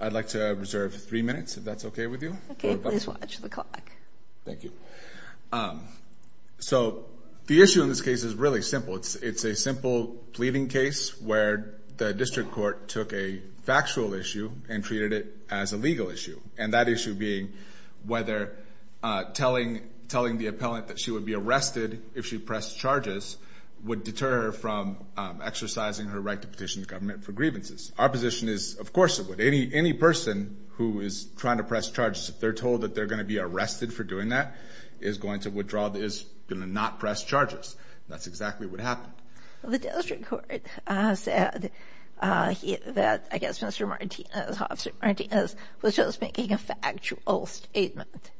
I'd like to reserve three minutes if that's okay with you. Okay, please watch the clock. Thank you. So, the issue in this case is really simple. It's a simple pleading case where the district court took a factual issue and treated it as a legal issue. And that issue being whether telling the appellant that she would be arrested if she pressed charges would deter her from exercising her right to petition the government for grievances. Our position is, of course it would. Any person who is trying to press charges, if they're told that they're going to be arrested for doing that, is going to withdraw, is going to not press charges. That's exactly what happened. The district court said that I guess Mr. Martinez, Officer Martinez, was just making a factual statement.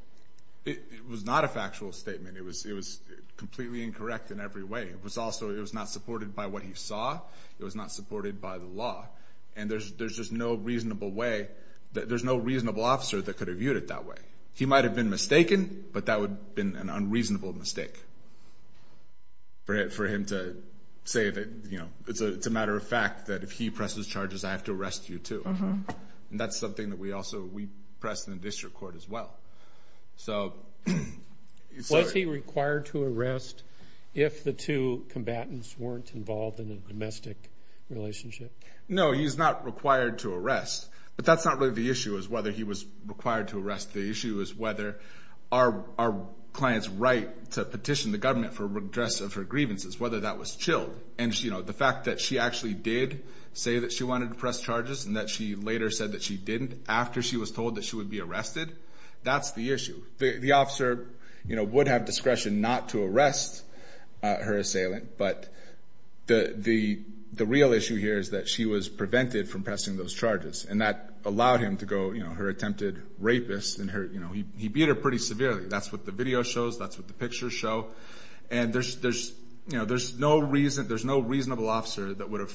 It was not a factual statement. It was completely incorrect in every way. It was also, it was not supported by what he saw. It was not supported by the law. And there's just no reasonable way, there's no reasonable officer that could have viewed it that way. He might have been mistaken, but that would have been an unreasonable mistake for him to say that, you know, it's a matter of fact that if he presses charges, I have to arrest you too. And that's something that we also, we press in the district court as well. Was he required to arrest if the two combatants weren't involved in a domestic relationship? No, he's not required to arrest. But that's not really the issue is whether he was required to arrest. The issue is whether our client's right to petition the government for redress of her grievances, whether that was chilled. And, you know, the fact that she actually did say that she wanted to press charges and that she later said that she didn't after she was told that she would be arrested. That's the issue. The officer, you know, would have discretion not to arrest her assailant. But the real issue here is that she was prevented from pressing those charges. And that allowed him to go, you know, her attempted rapist and her, you know, he beat her pretty severely. That's what the video shows. That's what the pictures show. And there's, you know, there's no reason, there's no reasonable officer that would have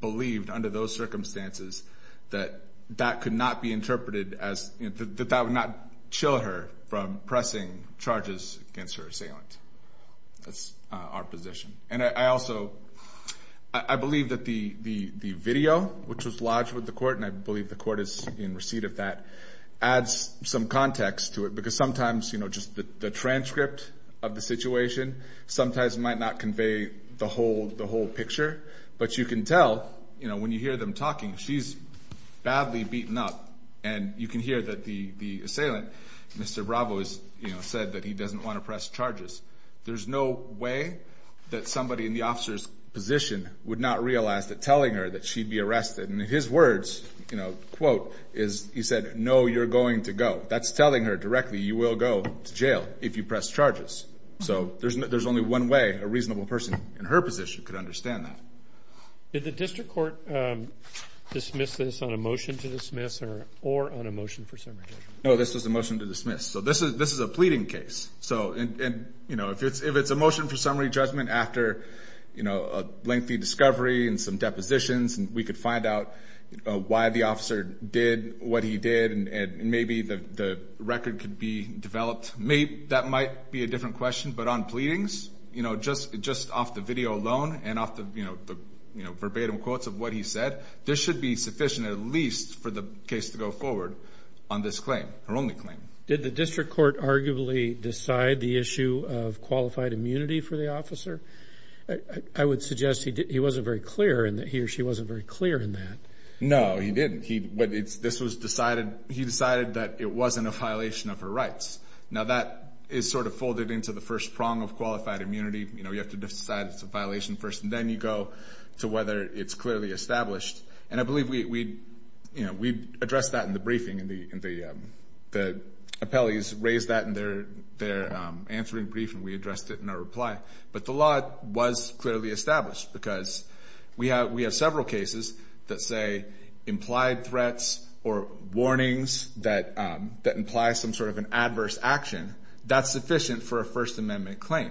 believed under those circumstances that that could not be interpreted as, that that would not chill her from pressing charges against her assailant. That's our position. And I also, I believe that the video, which was lodged with the court, and I believe the court is in receipt of that, adds some context to it. Because sometimes, you know, just the transcript of the situation sometimes might not convey the whole picture. But you can tell, you know, when you hear them talking, she's badly beaten up. And you can hear that the assailant, Mr. Bravo, has, you know, said that he doesn't want to press charges. There's no way that somebody in the officer's position would not realize that telling her that she'd be arrested, and his words, you know, quote, is he said, no, you're going to go. That's telling her directly, you will go to jail if you press charges. So there's only one way a reasonable person in her position could understand that. Did the district court dismiss this on a motion to dismiss or on a motion for summary? No, this was a motion to dismiss. So this is a pleading case. So, you know, if it's a motion for summary judgment after, you know, a lengthy discovery and some depositions, and we could find out why the officer did what he did, and maybe the record could be developed, that might be a different question. But on pleadings, you know, just off the video alone and off the, you know, verbatim quotes of what he said, this should be sufficient at least for the case to go forward on this claim, her only claim. Did the district court arguably decide the issue of qualified immunity for the officer? I would suggest he wasn't very clear and that he or she wasn't very clear in that. No, he didn't. This was decided, he decided that it wasn't a violation of her rights. Now, that is sort of folded into the first prong of qualified immunity. You know, you have to decide it's a violation first, and then you go to whether it's clearly established. And I believe we, you know, we addressed that in the briefing, and the appellees raised that in their answering brief, and we addressed it in our reply. But the law was clearly established because we have several cases that say implied threats or warnings that imply some sort of an adverse action, that's sufficient for a First Amendment claim.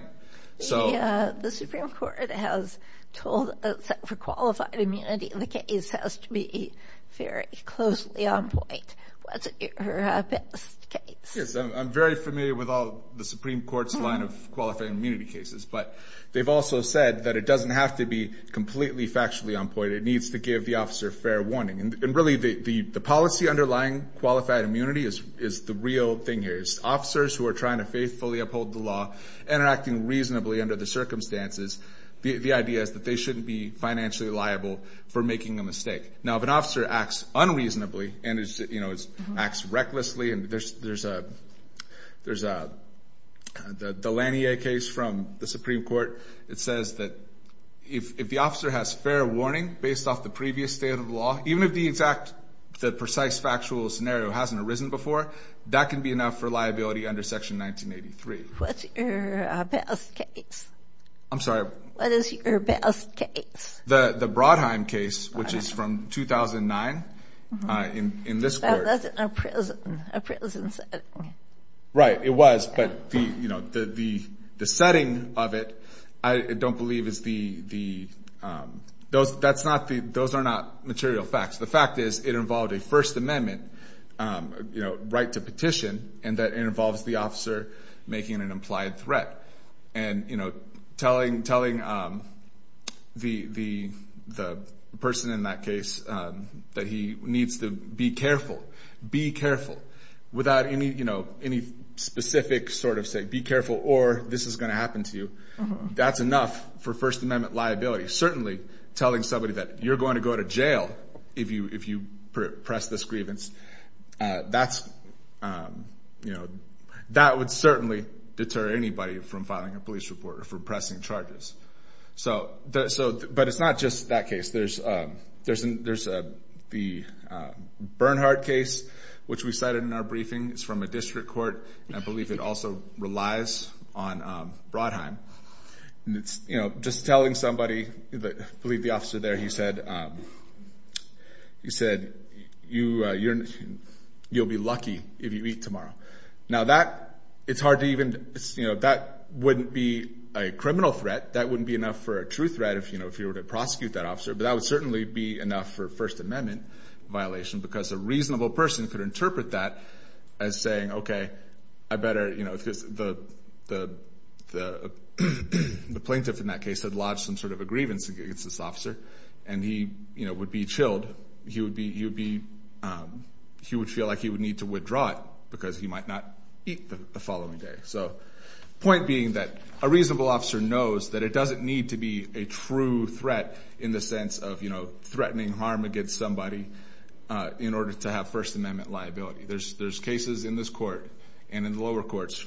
The Supreme Court has told us that for qualified immunity, the case has to be very closely on point. What's your best case? Yes, I'm very familiar with all the Supreme Court's line of qualified immunity cases, but they've also said that it doesn't have to be completely factually on point. It needs to give the officer fair warning. And really, the policy underlying qualified immunity is the real thing here. It's officers who are trying to faithfully uphold the law and are acting reasonably under the circumstances. The idea is that they shouldn't be financially liable for making a mistake. Now, if an officer acts unreasonably and, you know, acts recklessly, and there's the Lanier case from the Supreme Court. It says that if the officer has fair warning based off the previous state of the law, even if the exact precise factual scenario hasn't arisen before, that can be enough for liability under Section 1983. What's your best case? I'm sorry? What is your best case? The Brodheim case, which is from 2009. That wasn't a prison setting. Right, it was, but the setting of it I don't believe is the – those are not material facts. The fact is it involved a First Amendment, you know, right to petition, and that it involves the officer making an implied threat. And, you know, telling the person in that case that he needs to be careful, be careful, without any, you know, any specific sort of say be careful or this is going to happen to you. That's enough for First Amendment liability. Certainly telling somebody that you're going to go to jail if you press this grievance, that's, you know, that would certainly deter anybody from filing a police report or from pressing charges. So, but it's not just that case. There's the Bernhardt case, which we cited in our briefing. It's from a district court, and I believe it also relies on Brodheim. And it's, you know, just telling somebody, I believe the officer there, he said, he said, you'll be lucky if you eat tomorrow. Now that, it's hard to even, you know, that wouldn't be a criminal threat. That wouldn't be enough for a true threat if, you know, if you were to prosecute that officer. But that would certainly be enough for First Amendment violation because a reasonable person could interpret that as saying, okay, I better, you know, because the plaintiff in that case had lodged some sort of a grievance against this officer. And he, you know, would be chilled. He would be, he would be, he would feel like he would need to withdraw it because he might not eat the following day. So point being that a reasonable officer knows that it doesn't need to be a true threat in the sense of, you know, threatening harm against somebody in order to have First Amendment liability. There's cases in this court and in the lower courts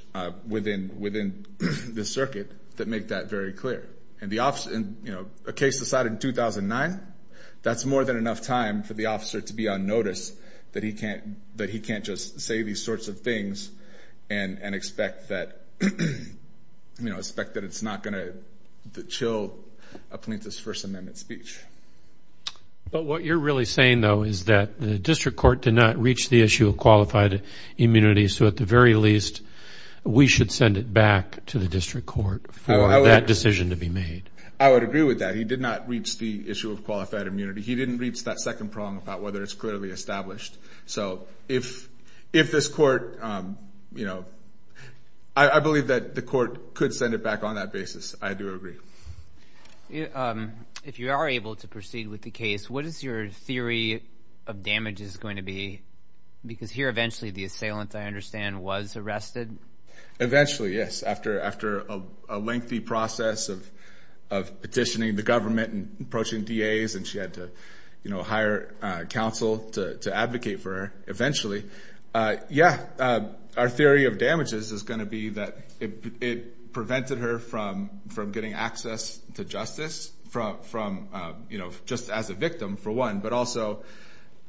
within the circuit that make that very clear. And the officer, you know, a case decided in 2009, that's more than enough time for the officer to be on notice that he can't, that he can't just say these sorts of things and expect that, you know, expect that it's not going to chill a plaintiff's First Amendment speech. But what you're really saying, though, is that the district court did not reach the issue of qualified immunity. So at the very least, we should send it back to the district court for that decision to be made. I would agree with that. He did not reach the issue of qualified immunity. He didn't reach that second prong about whether it's clearly established. So if this court, you know, I believe that the court could send it back on that basis. I do agree. If you are able to proceed with the case, what is your theory of damages going to be? Because here, eventually, the assailant, I understand, was arrested. Eventually, yes. After a lengthy process of petitioning the government and approaching DAs, and she had to, you know, hire counsel to advocate for her eventually. Yeah. Our theory of damages is going to be that it prevented her from getting access to justice from, you know, just as a victim, for one, but also,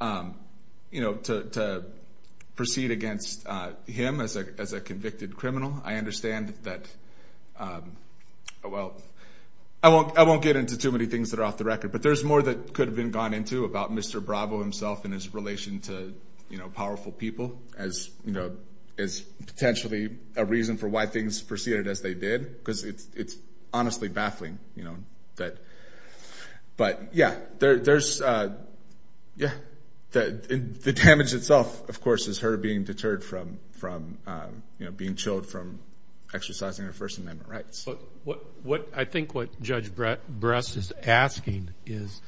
you know, to proceed against him as a convicted criminal. I understand that, well, I won't get into too many things that are off the record, but there's more that could have been gone into about Mr. Bravo himself and his relation to, you know, powerful people as, you know, as potentially a reason for why things proceeded as they did, because it's honestly baffling, you know, that. But, yeah, there's, yeah, the damage itself, of course, is her being deterred from, you know, being chilled from exercising her First Amendment rights. I think what Judge Bress is asking is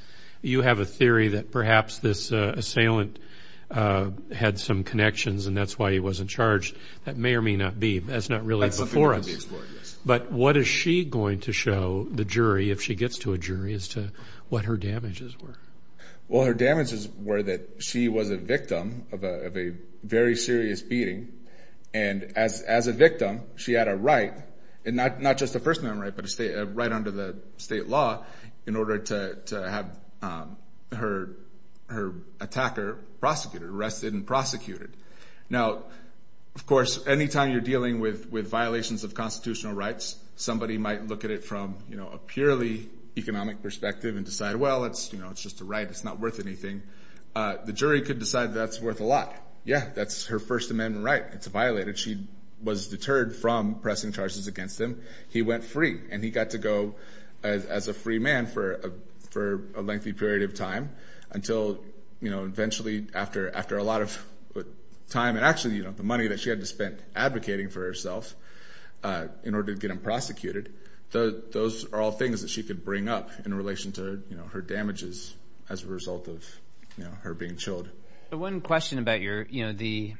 you have a theory that perhaps this assailant had some connections and that's why he wasn't charged. That may or may not be. That's not really before us. But what is she going to show the jury if she gets to a jury as to what her damages were? Well, her damages were that she was a victim of a very serious beating, and as a victim, she had a right, and not just a First Amendment right, but a right under the state law in order to have her attacker prosecuted, arrested and prosecuted. Now, of course, any time you're dealing with violations of constitutional rights, somebody might look at it from, you know, a purely economic perspective and decide, well, it's just a right, it's not worth anything. The jury could decide that's worth a lot. Yeah, that's her First Amendment right. It's violated. She was deterred from pressing charges against him. He went free, and he got to go as a free man for a lengthy period of time until, you know, eventually after a lot of time and actually, you know, the money that she had to spend advocating for herself in order to get him prosecuted. Those are all things that she could bring up in relation to, you know, her damages as a result of, you know, her being chilled. One question about your, you know, the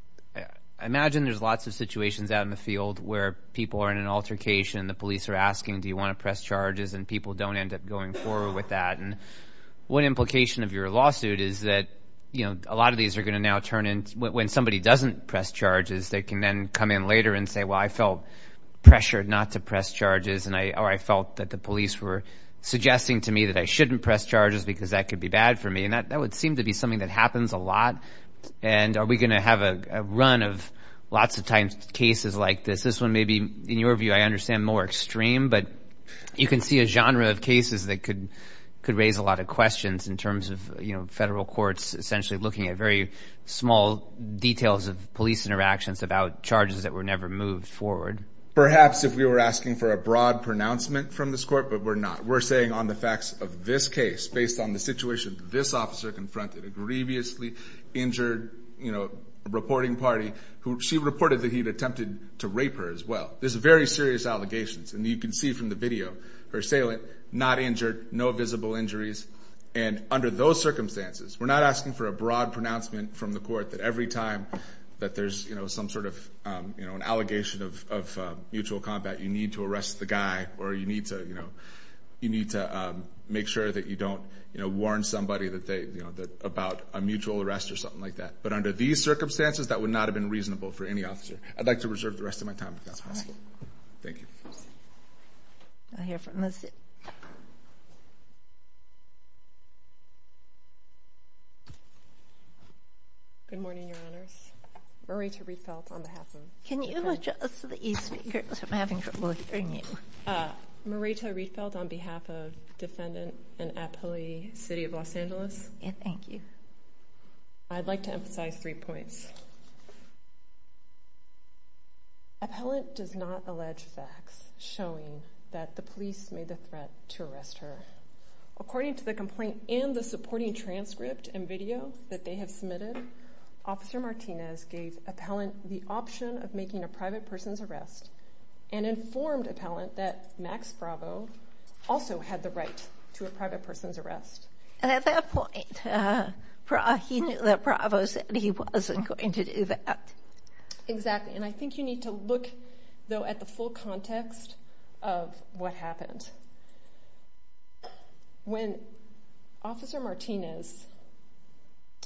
– I imagine there's lots of situations out in the field where people are in an altercation and the police are asking, do you want to press charges, and people don't end up going forward with that. And what implication of your lawsuit is that, you know, a lot of these are going to now turn in – when somebody doesn't press charges, they can then come in later and say, well, I felt pressured not to press charges, or I felt that the police were suggesting to me that I shouldn't press charges because that could be bad for me. And that would seem to be something that happens a lot. And are we going to have a run of lots of times cases like this? This one may be, in your view, I understand, more extreme, but you can see a genre of cases that could raise a lot of questions in terms of, you know, federal courts essentially looking at very small details of police interactions about charges that were never moved forward. Perhaps if we were asking for a broad pronouncement from this court, but we're not. We're saying on the facts of this case, based on the situation this officer confronted, a grievously injured, you know, reporting party, she reported that he had attempted to rape her as well. These are very serious allegations, and you can see from the video, her assailant not injured, no visible injuries. And under those circumstances, we're not asking for a broad pronouncement from the court that every time that there's, you know, some sort of, you know, an allegation of mutual combat, you need to arrest the guy, or you need to, you know, you need to make sure that you don't, you know, warn somebody that they, you know, about a mutual arrest or something like that. But under these circumstances, that would not have been reasonable for any officer. I'd like to reserve the rest of my time if that's possible. All right. Thank you. I hear from Liz. Good morning, Your Honors. Marietta Rietveld on behalf of the defense. Can you adjust the e-speakers? I'm having trouble hearing you. Marietta Rietveld on behalf of defendant and appellee, City of Los Angeles. Yes, thank you. I'd like to emphasize three points. Appellant does not allege facts showing that the police made the threat to arrest her. According to the complaint and the supporting transcript and video that they have submitted, Officer Martinez gave appellant the option of making a private person's arrest and informed appellant that Max Bravo also had the right to a private person's arrest. And at that point, he knew that Bravo said he wasn't going to do that. Exactly. And I think you need to look, though, at the full context of what happened. When Officer Martinez,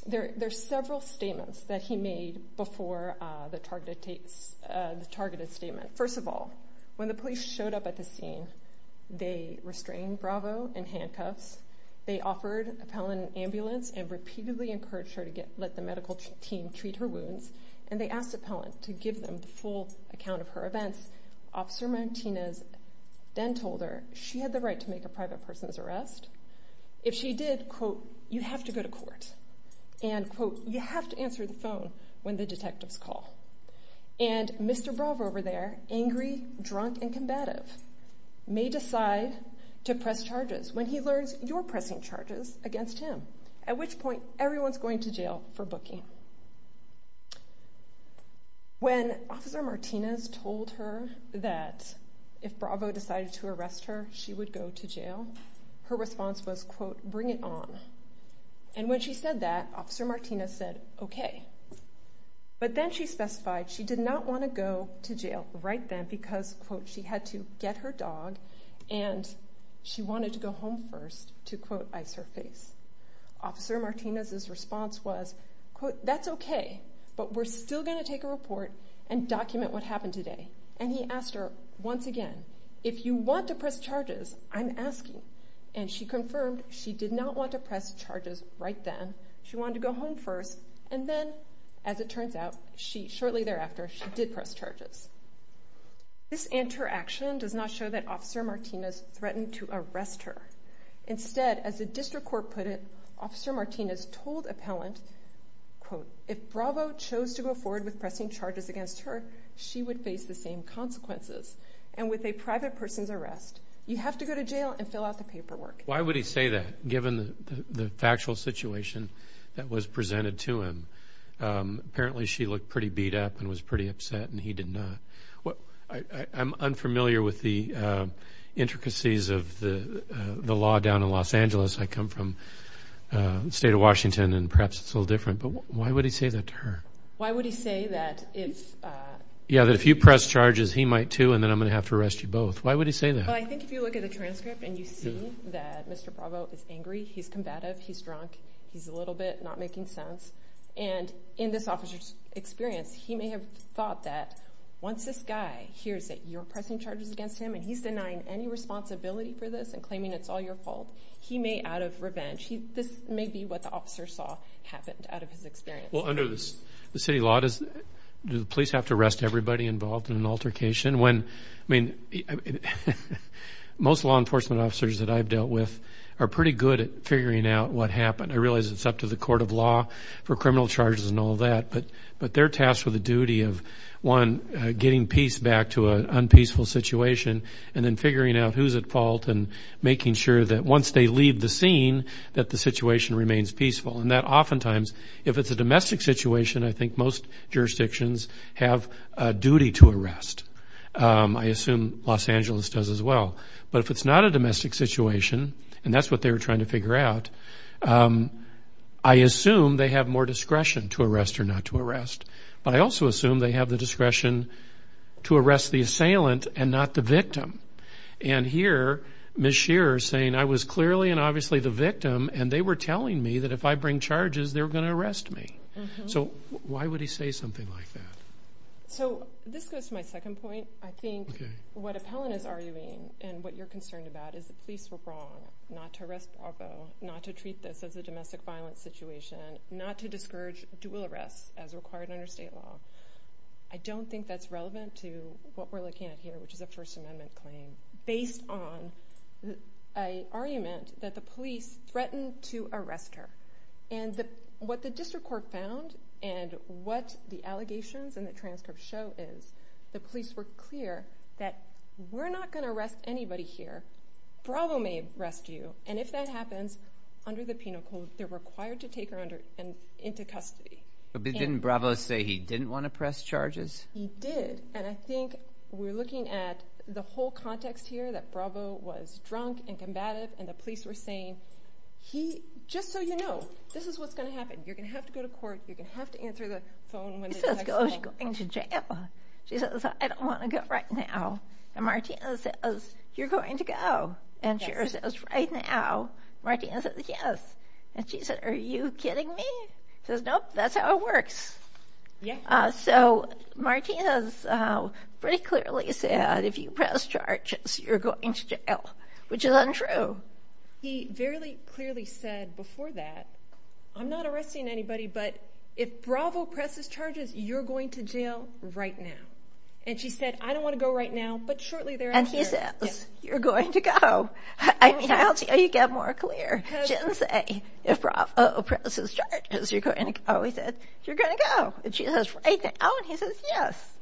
there are several statements that he made before the targeted statement. First of all, when the police showed up at the scene, they restrained Bravo in handcuffs. They offered appellant an ambulance and repeatedly encouraged her to let the medical team treat her wounds. And they asked appellant to give them the full account of her events. Officer Martinez then told her she had the right to make a private person's arrest. If she did, quote, you have to go to court. And, quote, you have to answer the phone when the detectives call. And Mr. Bravo over there, angry, drunk, and combative, may decide to press charges when he learns you're pressing charges against him, at which point everyone's going to jail for booking. When Officer Martinez told her that if Bravo decided to arrest her, she would go to jail, her response was, quote, bring it on. And when she said that, Officer Martinez said, okay. But then she specified she did not want to go to jail right then because, quote, she had to get her dog and she wanted to go home first, to, quote, ice her face. Officer Martinez's response was, quote, that's okay, but we're still going to take a report and document what happened today. And he asked her once again, if you want to press charges, I'm asking. And she confirmed she did not want to press charges right then. She wanted to go home first. And then, as it turns out, shortly thereafter, she did press charges. This interaction does not show that Officer Martinez threatened to arrest her. Instead, as the district court put it, Officer Martinez told appellant, quote, if Bravo chose to go forward with pressing charges against her, she would face the same consequences. And with a private person's arrest, you have to go to jail and fill out the paperwork. Why would he say that, given the factual situation that was presented to him? Apparently she looked pretty beat up and was pretty upset, and he did not. I'm unfamiliar with the intricacies of the law down in Los Angeles. I come from the state of Washington, and perhaps it's a little different. But why would he say that to her? Why would he say that if? Yeah, that if you press charges, he might too, and then I'm going to have to arrest you both. Why would he say that? Well, I think if you look at the transcript and you see that Mr. Bravo is angry, he's combative, he's drunk, he's a little bit not making sense. And in this officer's experience, he may have thought that once this guy hears that you're pressing charges against him and he's denying any responsibility for this and claiming it's all your fault, he may, out of revenge, this may be what the officer saw happened out of his experience. Well, under the city law, do the police have to arrest everybody involved in an altercation? I mean, most law enforcement officers that I've dealt with are pretty good at figuring out what happened. I realize it's up to the court of law for criminal charges and all that, but they're tasked with the duty of, one, getting peace back to an unpeaceful situation and then figuring out who's at fault and making sure that once they leave the scene, that the situation remains peaceful. And that oftentimes, if it's a domestic situation, I think most jurisdictions have a duty to arrest. I assume Los Angeles does as well. But if it's not a domestic situation, and that's what they were trying to figure out, I assume they have more discretion to arrest or not to arrest. But I also assume they have the discretion to arrest the assailant and not the victim. And here, Ms. Shearer is saying, I was clearly and obviously the victim, and they were telling me that if I bring charges, they were going to arrest me. So why would he say something like that? So this goes to my second point. I think what Appellant is arguing and what you're concerned about is the police were wrong not to arrest Bravo, not to treat this as a domestic violence situation, not to discourage dual arrests as required under state law. I don't think that's relevant to what we're looking at here, which is a First Amendment claim, based on an argument that the police threatened to arrest her. What the district court found and what the allegations in the transcript show is the police were clear that we're not going to arrest anybody here. Bravo may arrest you, and if that happens, under the penal code, they're required to take her into custody. But didn't Bravo say he didn't want to press charges? He did, and I think we're looking at the whole context here, that Bravo was drunk and combative, and the police were saying, just so you know, this is what's going to happen. You're going to have to go to court. You're going to have to answer the phone when they text you. He says, are you going to jail? She says, I don't want to go right now. And Martina says, you're going to go? And she says, right now? Martina says, yes. And she said, are you kidding me? She says, nope, that's how it works. So Martina pretty clearly said, if you press charges, you're going to jail, which is untrue. He very clearly said before that, I'm not arresting anybody, but if Bravo presses charges, you're going to jail right now. And she said, I don't want to go right now, but shortly thereafter. And he says, you're going to go. I mean, I'll tell you, you get more clear. She didn't say, if Bravo presses charges, you're going to go. He said, you're going to go. And she says, right now? And he says, yes.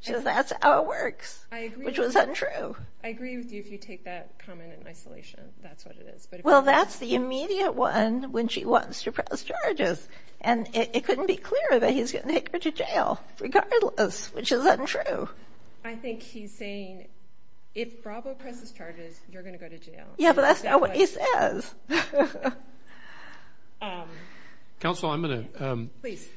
She says, that's how it works, which was untrue. I agree with you if you take that comment in isolation. That's what it is. Well, that's the immediate one when she wants to press charges. And it couldn't be clearer that he's going to take her to jail regardless, which is untrue. I think he's saying, if Bravo presses charges, you're going to go to jail. Yeah, but that's not what he says. Counsel, I'm going to – Please.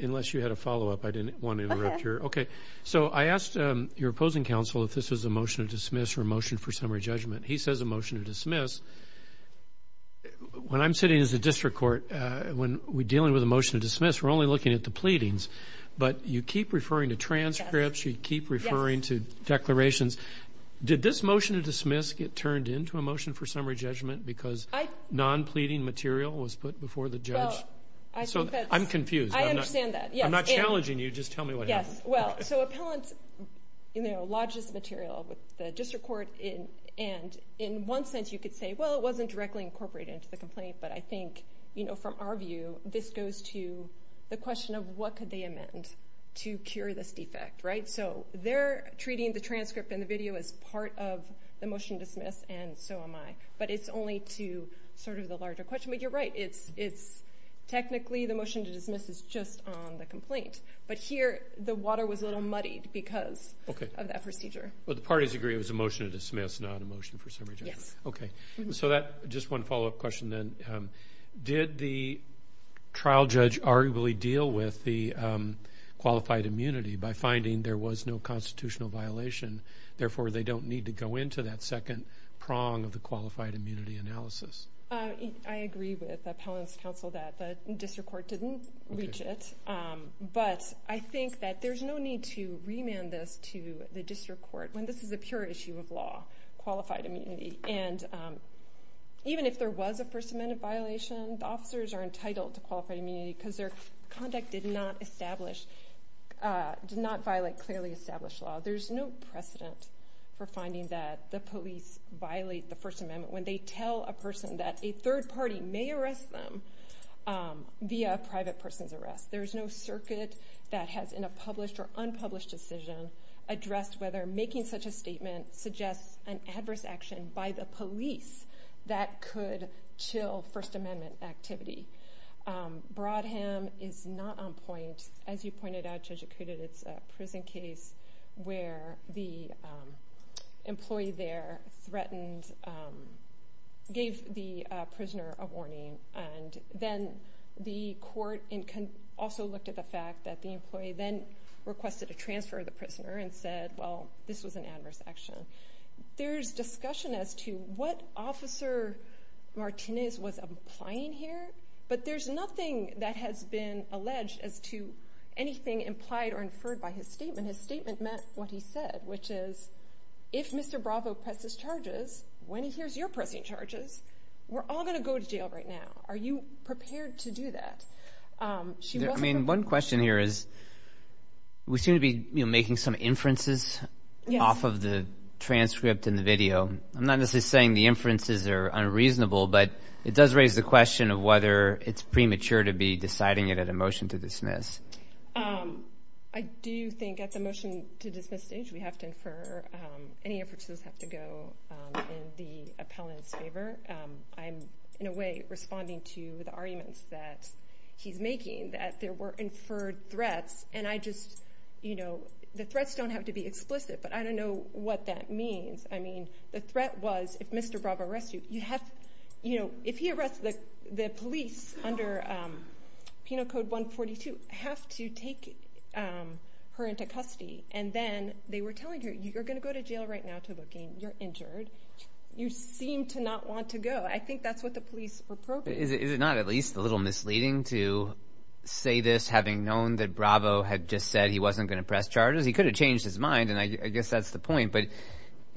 Unless you had a follow-up, I didn't want to interrupt your – Okay, so I asked your opposing counsel if this was a motion to dismiss or a motion for summary judgment. He says a motion to dismiss. When I'm sitting as a district court, when we're dealing with a motion to dismiss, we're only looking at the pleadings. But you keep referring to transcripts. You keep referring to declarations. Did this motion to dismiss get turned into a motion for summary judgment because non-pleading material was put before the judge? Well, I think that's – I'm confused. I understand that, yes. I'm not challenging you. Just tell me what happened. Yes, well, so appellant lodges the material with the district court. And in one sense, you could say, well, it wasn't directly incorporated into the complaint. But I think, from our view, this goes to the question of what could they amend to cure this defect, right? So they're treating the transcript and the video as part of the motion to dismiss, and so am I. But it's only to sort of the larger question. But you're right. Technically, the motion to dismiss is just on the complaint. But here, the water was a little muddied because of that procedure. Well, the parties agree it was a motion to dismiss, not a motion for summary judgment. Okay, so just one follow-up question then. Did the trial judge arguably deal with the qualified immunity by finding there was no constitutional violation? Therefore, they don't need to go into that second prong of the qualified immunity analysis. I agree with the appellant's counsel that the district court didn't reach it. But I think that there's no need to remand this to the district court when this is a pure issue of law, qualified immunity. And even if there was a First Amendment violation, the officers are entitled to qualified immunity because their conduct did not establish, did not violate clearly established law. There's no precedent for finding that the police violate the First Amendment when they tell a person that a third party may arrest them via a private person's arrest. There's no circuit that has, in a published or unpublished decision, addressed whether making such a statement suggests an adverse action by the police that could chill First Amendment activity. Brodham is not on point. As you pointed out, Judge Acuda, it's a prison case where the employee there threatened, gave the prisoner a warning. And then the court also looked at the fact that the employee then requested a transfer of the prisoner and said, well, this was an adverse action. There's discussion as to what Officer Martinez was implying here, but there's nothing that has been alleged as to anything implied or inferred by his statement. His statement meant what he said, which is, if Mr. Bravo presses charges, when he hears your pressing charges, we're all going to go to jail right now. Are you prepared to do that? One question here is we seem to be making some inferences off of the transcript and the video. I'm not necessarily saying the inferences are unreasonable, but it does raise the question of whether it's premature to be deciding it at a motion to dismiss. I do think at the motion to dismiss stage we have to infer. Any inferences have to go in the appellant's favor. I'm, in a way, responding to the arguments that he's making, that there were inferred threats. And I just, you know, the threats don't have to be explicit, but I don't know what that means. I mean, the threat was if Mr. Bravo arrests you, you have to, you know, if he arrests the police under Penal Code 142, have to take her into custody. And then they were telling her, you're going to go to jail right now to look in. You're injured. You seem to not want to go. I think that's what the police were probing. Is it not at least a little misleading to say this, having known that Bravo had just said he wasn't going to press charges? He could have changed his mind, and I guess that's the point. But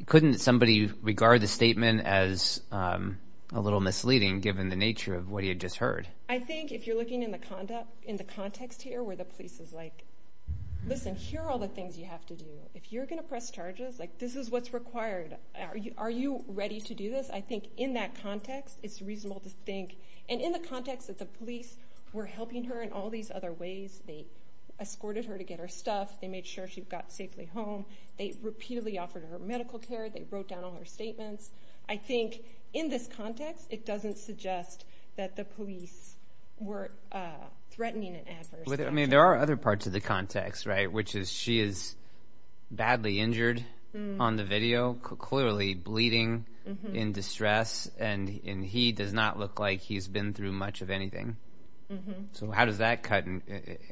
couldn't somebody regard the statement as a little misleading given the nature of what he had just heard? I think if you're looking in the context here where the police is like, listen, here are all the things you have to do. If you're going to press charges, like this is what's required. Are you ready to do this? I think in that context it's reasonable to think, and in the context that the police were helping her in all these other ways. They escorted her to get her stuff. They made sure she got safely home. They repeatedly offered her medical care. They wrote down all her statements. I think in this context it doesn't suggest that the police were threatening an adverse action. There are other parts of the context, right, which is she is badly injured on the video, clearly bleeding in distress, and he does not look like he's been through much of anything. So how does that cut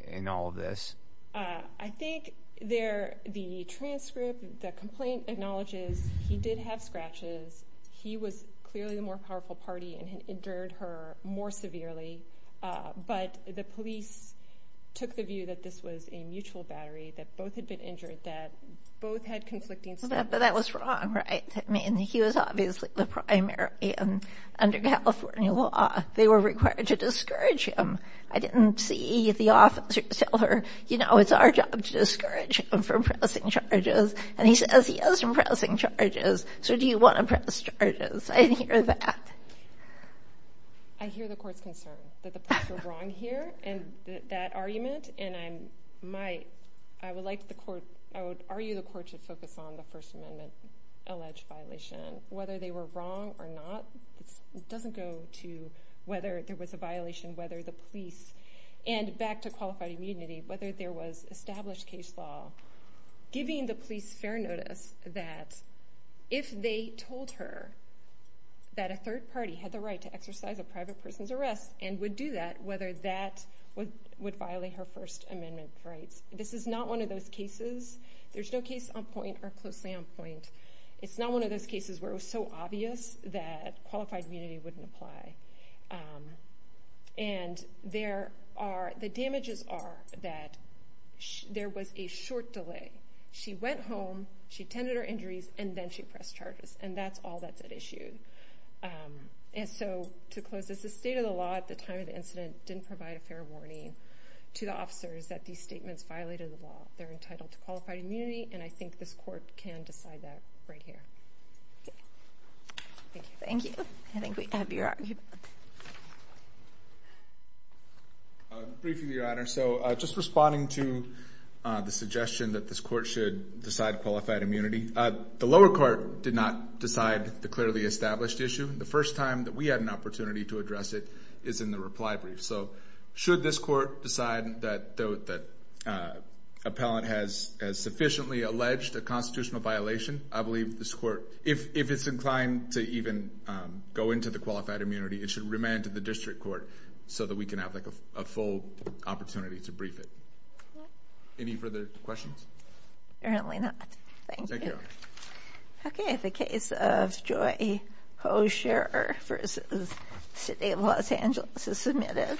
in all of this? I think the transcript, the complaint acknowledges he did have scratches. He was clearly the more powerful party and had injured her more severely. But the police took the view that this was a mutual battery, that both had been injured, that both had conflicting statements. But that was wrong, right? I mean, he was obviously the primary, and under California law they were required to discourage him. I didn't see the officer tell her, you know, it's our job to discourage him from pressing charges, and he says he is from pressing charges, so do you want to press charges? I didn't hear that. I hear the court's concern that the police were wrong here in that argument, and I would argue the court should focus on the First Amendment-alleged violation. Whether they were wrong or not doesn't go to whether there was a violation, whether the police, and back to qualified immunity, whether there was established case law, giving the police fair notice that if they told her that a third party had the right to exercise a private person's arrest and would do that, whether that would violate her First Amendment rights. This is not one of those cases. There's no case on point or closely on point. It's not one of those cases where it was so obvious that qualified immunity wouldn't apply, and the damages are that there was a short delay. She went home, she attended her injuries, and then she pressed charges, and that's all that's at issue. And so to close this, the state of the law at the time of the incident didn't provide a fair warning to the officers that these statements violated the law. They're entitled to qualified immunity, and I think this court can decide that right here. Thank you. Thank you. Briefing, Your Honor. So just responding to the suggestion that this court should decide qualified immunity, the lower court did not decide the clearly established issue. The first time that we had an opportunity to address it is in the reply brief. So should this court decide that an appellant has sufficiently alleged a constitutional violation, I believe this court, if it's inclined to even go into the qualified immunity, it should remand to the district court so that we can have a full opportunity to brief it. Any further questions? Apparently not. Thank you. Thank you, Your Honor. Okay, the case of Joy Hoescher v. City of Los Angeles is submitted.